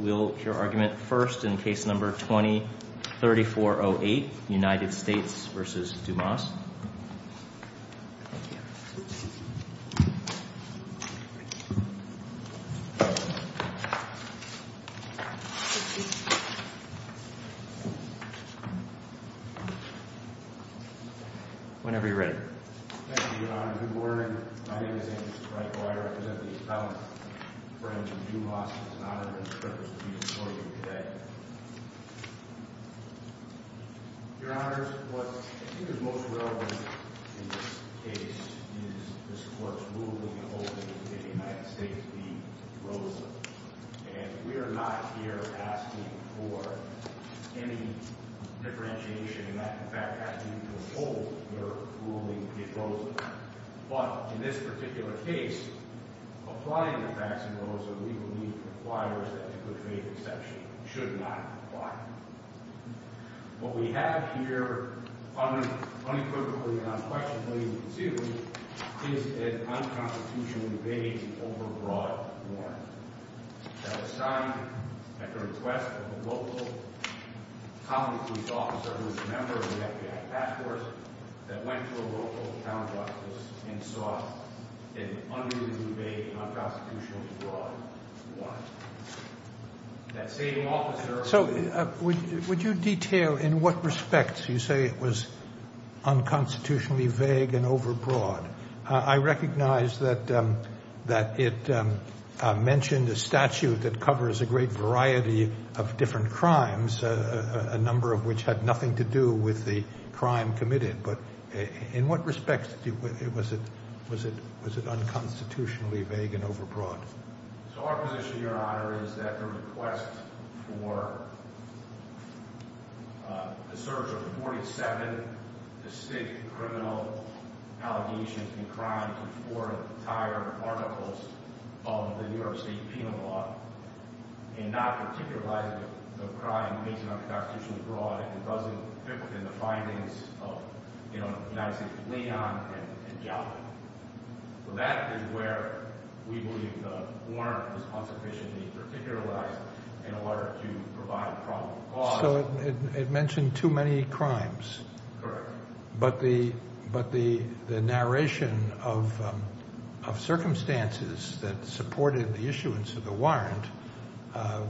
will hear argument first in case number 20-3408, United States v. Dumas. Whenever you're ready. Thank you, Your Honor. Good morning. My name is Andrew Streicher. I represent the fellow friends of Dumas. It's an honor and a privilege to be before you today. Your Honors, what I think is most relevant in this case is this court's ruling in the holding of the United States v. Rosen. And we are not here asking for any differentiation in that, in fact, asking you to withhold your ruling in Rosen. But in this particular case, applying the facts in Rosen, we believe, requires that the good faith exception should not apply. What we have here unequivocally and unquestionably to do is an unconstitutional debate over broad warrant. That was signed at the request of a local common-proof officer who was a member of the FBI task force that went to a local counter-justice and sought an unruly debate on unconstitutional broad warrant. So would you detail in what respects you say it was unconstitutionally vague and overbroad? I recognize that it mentioned a statute that covers a great variety of different crimes, a number of which had nothing to do with the crime committed. But in what respects was it unconstitutionally vague and overbroad? So our position, Your Honor, is that the request for the search of 47 distinct criminal allegations and crimes in four entire articles of the New York State Penal Law and not particularizing the crime made unconstitutionally broad, it doesn't fit within the findings of United States of Leon and Gallup. That is where we believe the warrant was unsufficiently particularized in order to provide a probable cause. So it mentioned too many crimes. Correct. But the narration of circumstances that supported the issuance of the warrant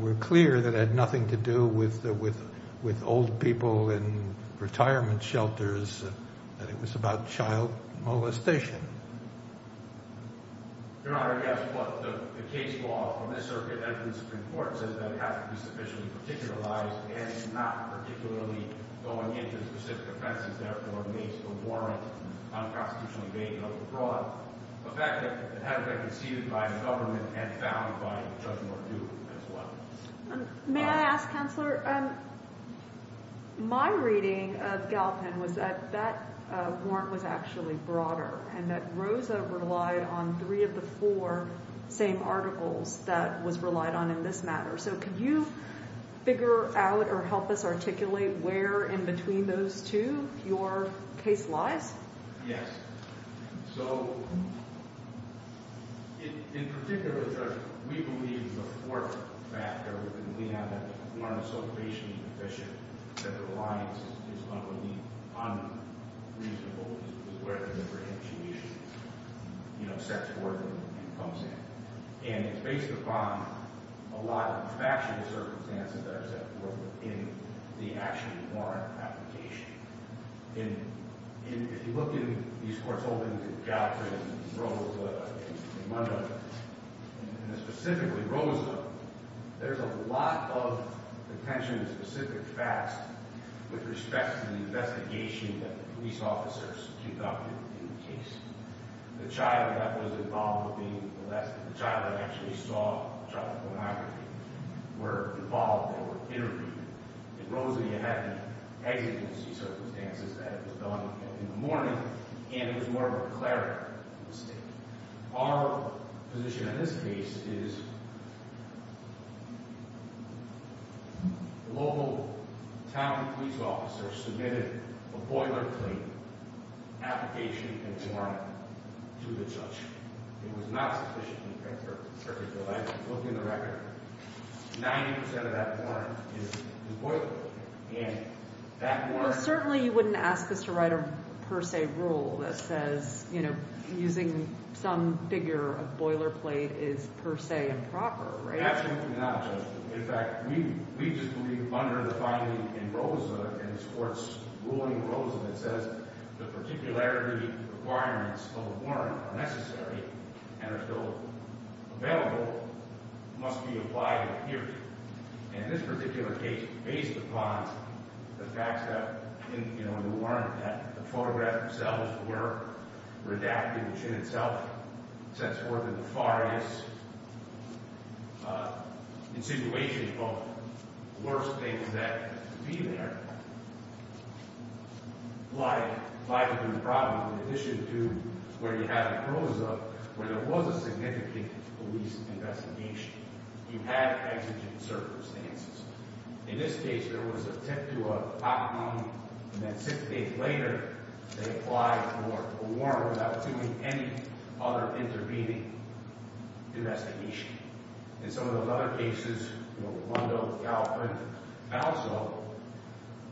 were clear that it had nothing to do with old people in retirement shelters, that it was about child molestation. Your Honor, yes. But the case law from this circuit evidence of importance is that it has to be sufficiently particularized, and it's not particularly going into specific offenses. Therefore, it makes the warrant unconstitutionally vague and overbroad. The fact that it has been conceded by the government and found by Judge Mardu as well. May I ask, Counselor, my reading of Gallupan was that that warrant was actually broader and that Rosa relied on three of the four same articles that was relied on in this matter. So could you figure out or help us articulate where in between those two your case lies? Yes. So in particular, Judge, we believe the fourth factor, and we have that the warrant is so patiently deficient that the reliance is on the unreasonable, is where the differentiation, you know, sets forth and comes in. And it's based upon a lot of factual circumstances that are set forth in the actual warrant application. And if you look in these court holdings in Gallupan and in Munda, and specifically Rosa, there's a lot of attention to specific facts with respect to the investigation that the police officers conducted in the case. The child that was involved with being molested, the child that actually saw the child pornography, were involved, they were interviewed. And Rosa, you have the exigency circumstances that it was done in the morning, and it was more of a declarative mistake. Our position in this case is the local town police officer submitted a boilerplate application and warrant to the judge. It was not sufficiently perfect. If you look in the record, 90 percent of that warrant is the boilerplate. And that warrant… Well, certainly you wouldn't ask us to write a per se rule that says, you know, using some figure of boilerplate is per se improper, right? Absolutely not, Judge. In fact, we just believe under the finding in Rosa, in this court's ruling in Rosa, that says the particularity requirements of a warrant are necessary and are still available, must be applied here. And in this particular case, based upon the fact that, you know, we learned that the photographs themselves were redacted, which in itself sets forth a nefarious insinuation, but the worst things that could be there lie within the problem, in addition to where you have in Rosa, where there was a significant police investigation. You had exigent circumstances. In this case, there was an attempt to obtain, and then six days later, they applied for a warrant without doing any other intervening investigation. In some of those other cases, you know, Rolando, Galpin, and also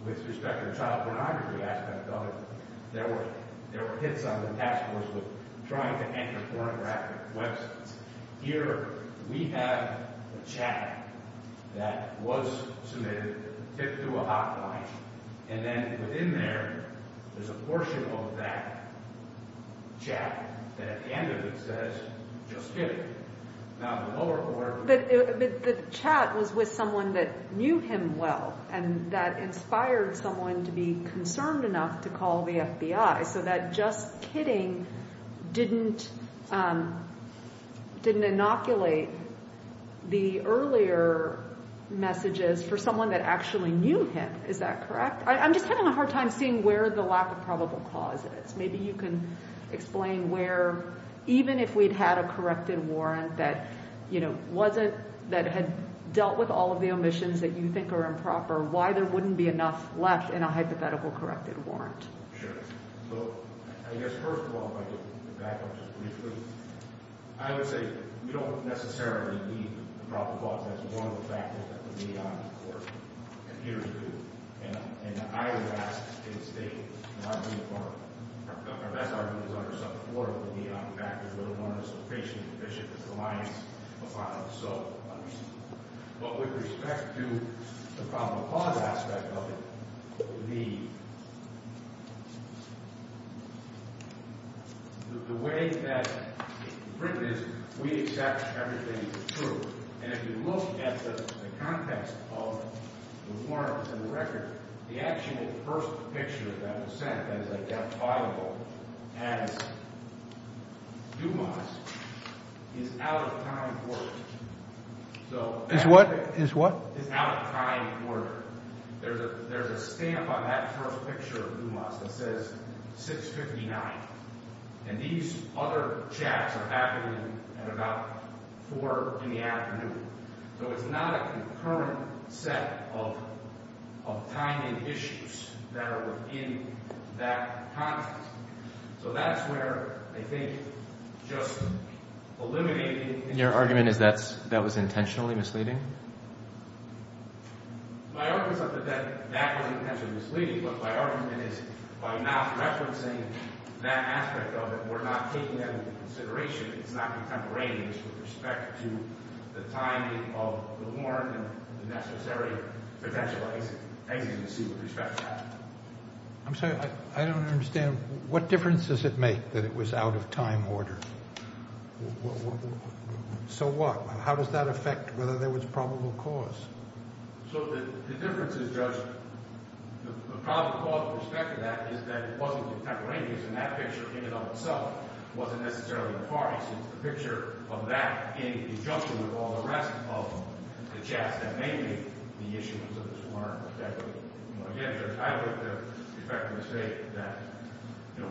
with respect to the child pornography aspect of it, there were hits on the task force with trying to enter pornographic websites. Here, we have a chat that was submitted, tipped to a hotline, and then within there, there's a portion of that chat that at the end of it says, just kidding. But the chat was with someone that knew him well and that inspired someone to be concerned enough to call the FBI so that just kidding didn't inoculate the earlier messages for someone that actually knew him. Is that correct? I'm just having a hard time seeing where the lack of probable cause is. Maybe you can explain where, even if we'd had a corrected warrant that had dealt with all of the omissions that you think are improper, why there wouldn't be enough left in a hypothetical corrected warrant. Sure. So I guess first of all, if I could back up just briefly, I would say we don't necessarily need the probable cause as one of the factors that the neon or computers do. And I would ask that the state not be a part of it. The way that it's written is we accept everything as true. And if you look at the context of the warrant and the record, the actual first picture that was sent as identifiable as Dumas is out of time and order. Is what? Is out of time and order. There's a stamp on that first picture of Dumas that says 6.59. And these other chats are happening at about 4 in the afternoon. So it's not a concurrent set of timing issues that are within that context. So that's where I think just eliminating... Your argument is that that was intentionally misleading? My argument is not that that was intentionally misleading. What my argument is, by not referencing that aspect of it, we're not taking that into consideration. It's not contemporaneous with respect to the timing of the warrant and the necessary potential agency with respect to that. I'm sorry. I don't understand. What difference does it make that it was out of time and order? So what? How does that affect whether there was probable cause? So the difference is, Judge, the probable cause with respect to that is that it wasn't contemporaneous. And that picture in and of itself wasn't necessarily the parties. It's the picture of that in conjunction with all the rest of the chats that may be the issuance of this warrant. Again, I would effectively say that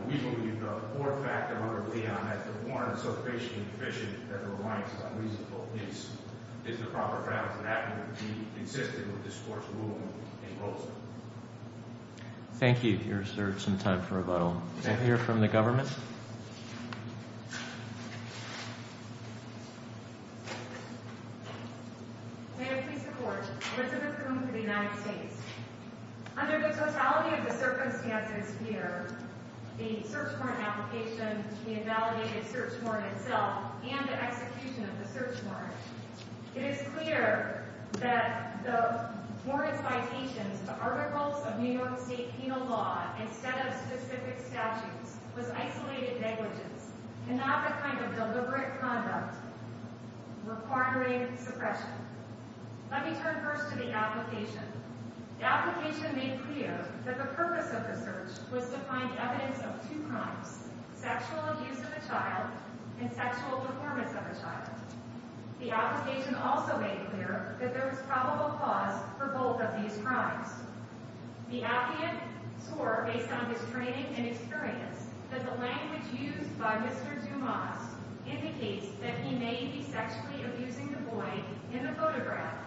we believe the fourth factor under Leon is the warrant is so patiently deficient that it reminds us how reasonable it is. It's the proper grounds for that to be consistent with this Court's ruling in Bolsa. Thank you. You reserved some time for rebuttal. Can I hear from the government? Yes, ma'am. May it please the Court. Elizabeth Groom for the United States. Under the totality of the circumstances here, the search warrant application, the invalidated search warrant itself, and the execution of the search warrant, it is clear that the warrant's citations to articles of New York State penal law instead of specific statutes was isolated negligence and not the kind of deliberate conduct requiring suppression. Let me turn first to the application. The application made clear that the purpose of the search was to find evidence of two crimes, sexual abuse of a child and sexual deformance of a child. The application also made clear that there was probable cause for both of these crimes. The applicant swore, based on his training and experience, that the language used by Mr. Dumas indicates that he may be sexually abusing the boy in the photograph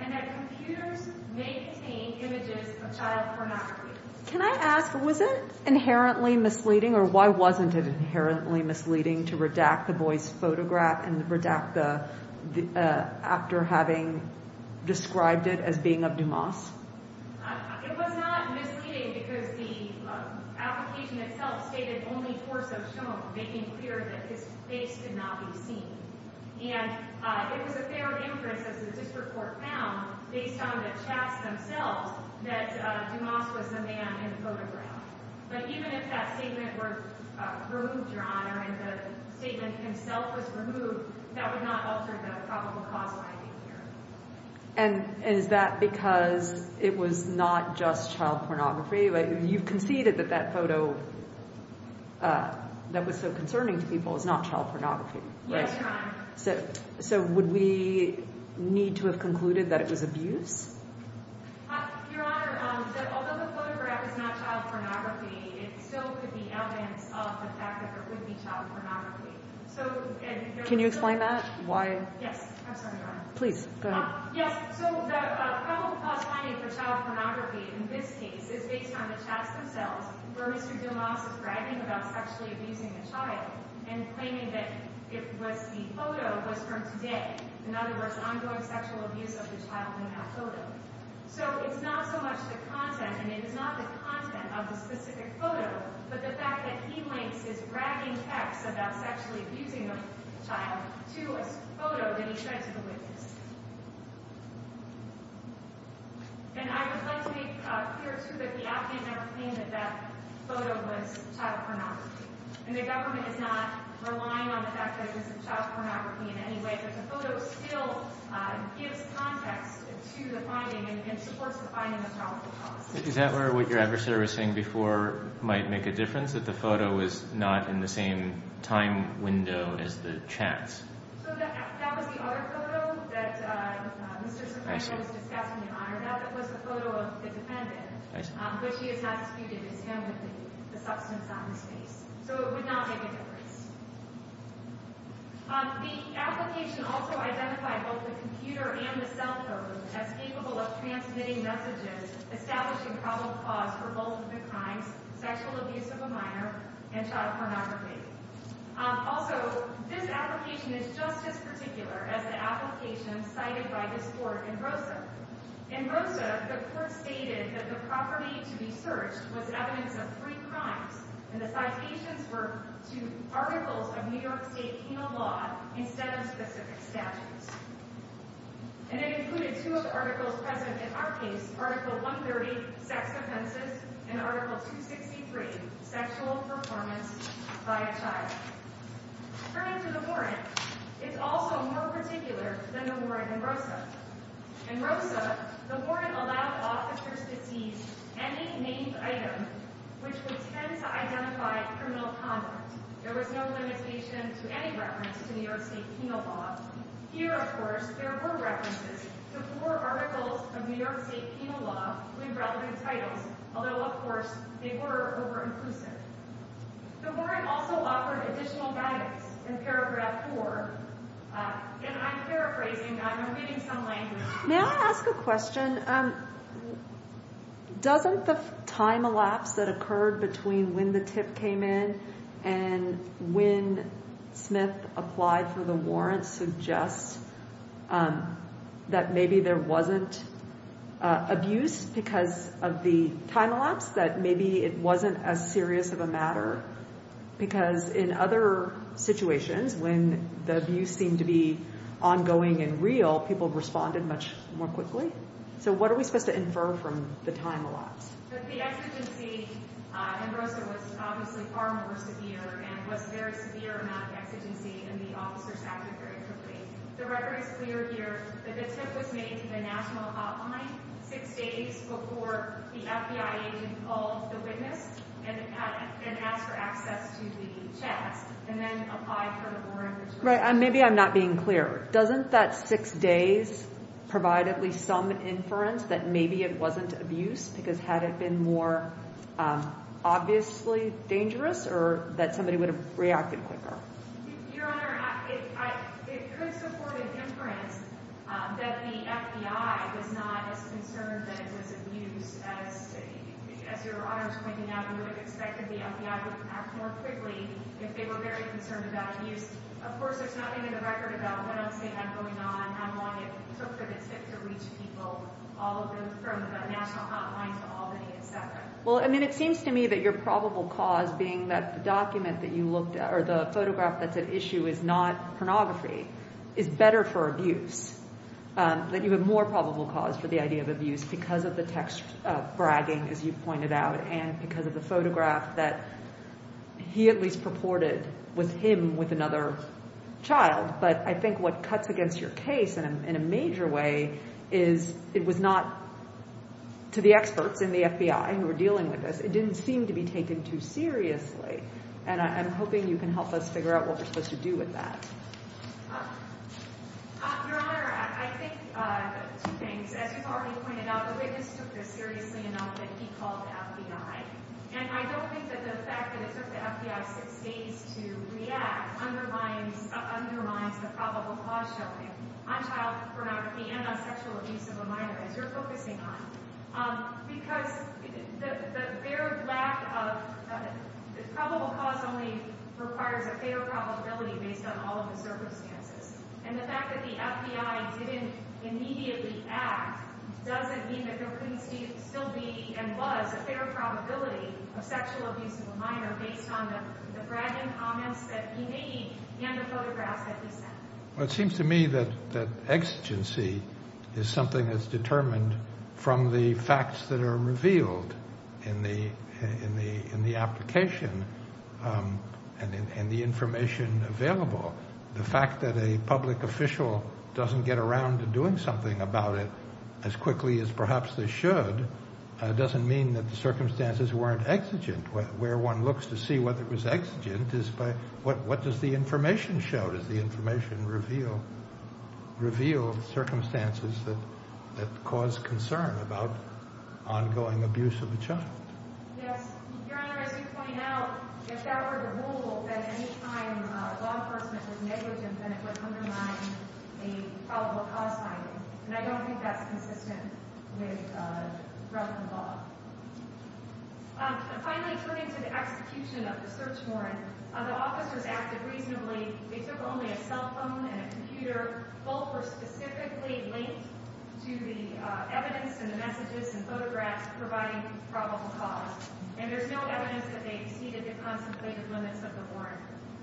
and that computers may contain images of child pornography. Can I ask, was it inherently misleading, or why wasn't it inherently misleading to redact the boy's photograph and redact the actor having described it as being of Dumas? It was not misleading because the application itself stated only force of show, making clear that his face could not be seen. And it was a fair inference, as the district court found, based on the chats themselves, that Dumas was the man in the photograph. But even if that statement were removed, Your Honor, and the statement himself was removed, that would not alter the probable cause finding here. And is that because it was not just child pornography? You've conceded that that photo that was so concerning to people is not child pornography, right? Yes, Your Honor. So would we need to have concluded that it was abuse? Your Honor, although the photograph is not child pornography, it still could be evidence of the fact that there could be child pornography. Can you explain that? Why? Yes, I'm sorry, Your Honor. Please, go ahead. Yes, so the probable cause finding for child pornography in this case is based on the chats themselves where Mr. Dumas is bragging about sexually abusing the child and claiming that the photo was from today. In other words, ongoing sexual abuse of the child in that photo. So it's not so much the content, and it is not the content of the specific photo, but the fact that he links his bragging text about sexually abusing the child to a photo that he showed to the witness. And I would like to be clear, too, that the op-ed never claimed that that photo was child pornography. And the government is not relying on the fact that it was child pornography in any way, but the photo still gives context to the finding and supports the finding of the probable cause. Is that where what your adversary was saying before might make a difference, that the photo was not in the same time window as the chats? So that was the other photo that Mr. Soprano was discussing, Your Honor. That was the photo of the defendant, but she is not disputed as him with the substance on his face. So it would not make a difference. The application also identified both the computer and the cell phone as capable of transmitting messages establishing probable cause for both the crimes, sexual abuse of a minor, and child pornography. Also, this application is just as particular as the application cited by this Court in Rosa. In Rosa, the court stated that the property to be searched was evidence of three crimes, and the citations were to articles of New York State penal law instead of specific statutes. And it included two of the articles present in our case, Article 130, sex offenses, and Article 263, sexual performance by a child. According to the warrant, it's also more particular than the warrant in Rosa. In Rosa, the warrant allowed officers to seize any named item which would tend to identify criminal conduct. There was no limitation to any reference to New York State penal law. Here, of course, there were references to four articles of New York State penal law with relevant titles, although, of course, they were over-inclusive. The warrant also offered additional guidance. In Paragraph 4, and I'm paraphrasing. I'm reading some language. May I ask a question? Doesn't the time elapse that occurred between when the tip came in and when Smith applied for the warrant suggest that maybe there wasn't abuse because of the time elapse, that maybe it wasn't as serious of a matter? Because in other situations, when the abuse seemed to be ongoing and real, people responded much more quickly. So what are we supposed to infer from the time elapse? The exigency in Rosa was obviously far more severe and was a very severe amount of exigency, and the officers acted very quickly. The record is clear here that the tip was made to the national hotline six days before the FBI agent called the witness and asked for access to the chest and then applied for the warrant. Maybe I'm not being clear. Doesn't that six days provide at least some inference that maybe it wasn't abuse because had it been more obviously dangerous or that somebody would have reacted quicker? Your Honor, it could support an inference that the FBI was not as concerned that it was abuse. As your Honor was pointing out, we would have expected the FBI to act more quickly if they were very concerned about abuse. Of course, there's nothing in the record about what else they had going on, how long it took for the tip to reach people, all of them from the national hotline to Albany, et cetera. Well, I mean, it seems to me that your probable cause being that the document that you looked at or the photograph that's at issue is not pornography is better for abuse, that you have more probable cause for the idea of abuse because of the text bragging, as you pointed out, and because of the photograph that he at least purported was him with another child. But I think what cuts against your case in a major way is it was not to the experts in the FBI who were dealing with this. It didn't seem to be taken too seriously. And I'm hoping you can help us figure out what we're supposed to do with that. Your Honor, I think two things. As you've already pointed out, the witness took this seriously enough that he called the FBI. And I don't think that the fact that it took the FBI six days to react undermines the probable cause showing on child pornography and on sexual abuse of a minor, as you're focusing on, because the very lack of probable cause only requires a fair probability based on all of the circumstances. And the fact that the FBI didn't immediately act doesn't mean that there couldn't still be and was a fair probability of sexual abuse of a minor based on the bragging comments that he made and the photographs that he sent. Well, it seems to me that exigency is something that's determined from the facts that are revealed in the application and the information available. The fact that a public official doesn't get around to doing something about it as quickly as perhaps they should doesn't mean that the circumstances weren't exigent. Where one looks to see whether it was exigent is by what does the information show? Does the information reveal circumstances that cause concern about ongoing abuse of a child? Yes, Your Honor, as you point out, if that were the rule, then any time law enforcement was negligent, then it would undermine the probable cause finding. And I don't think that's consistent with relevant law. Finally, turning to the execution of the search warrant, the officers acted reasonably. Both were specifically linked to the evidence and the messages and photographs providing probable cause, and there's no evidence that they exceeded the contemplated limits of the warrant.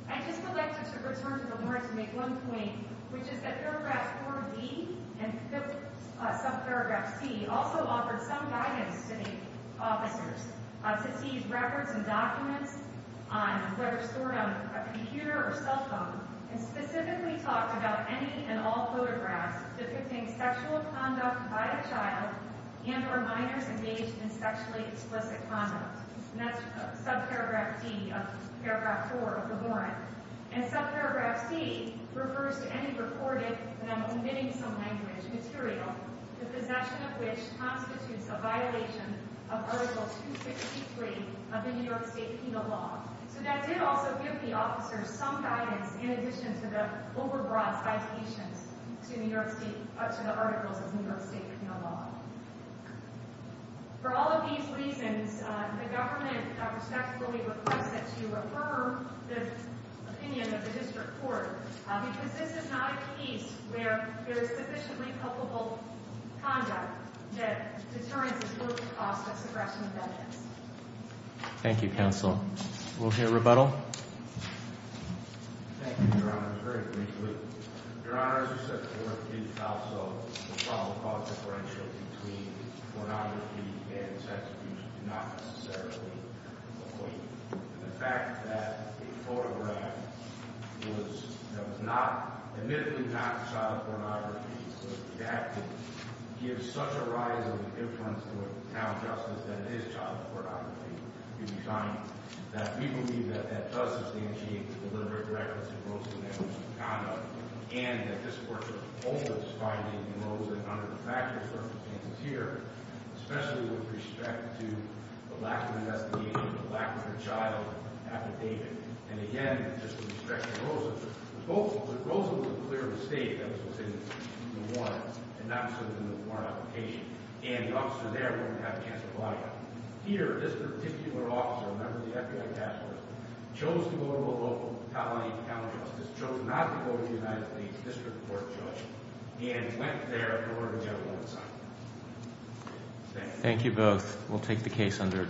I'd just like to return to the warrant to make one point, which is that Paragraph 4B and Subparagraph C also offered some guidance to the officers to seize records and documents that are stored on a computer or cell phone and specifically talked about any and all photographs depicting sexual conduct by a child and or minors engaged in sexually explicit conduct. And that's Subparagraph D of Paragraph 4 of the warrant. And Subparagraph C refers to any recorded, and I'm omitting some language, material, the possession of which constitutes a violation of Article 263 of the New York State Penal Law. So that did also give the officers some guidance in addition to the over-broad citations to the articles of the New York State Penal Law. For all of these reasons, the government respectfully requests that you affirm the opinion of the District Court because this is not a case where there is sufficiently culpable conduct that determines the total cost of suppression of evidence. Thank you, Counsel. We'll hear rebuttal. Thank you, Your Honor. Very briefly, Your Honor, as you said before, it's also a problem called differential between pornography and sex abuse. It's not necessarily the point. The fact that a photograph was not, admittedly not child pornography, but the fact that it gives such a rise of influence to a town justice that it is child pornography, we find that we believe that that does substantiate the deliberate directness of Rosen and his conduct, and that this court should hold its finding in Rosen under the factual circumstances here, especially with respect to the lack of investigation, the lack of a child affidavit. And again, just with respect to Rosen, Rosen was a clear mistake that was in the warrant and not presented in the warrant application. And the officer there wouldn't have a chance to apply it. Here, this particular officer, a member of the FBI task force, chose to go to a local county town justice, chose not to go to the United States District Court judge, and went there to order the evidence signed. Thank you. Thank you both. We'll take the case under adjournment.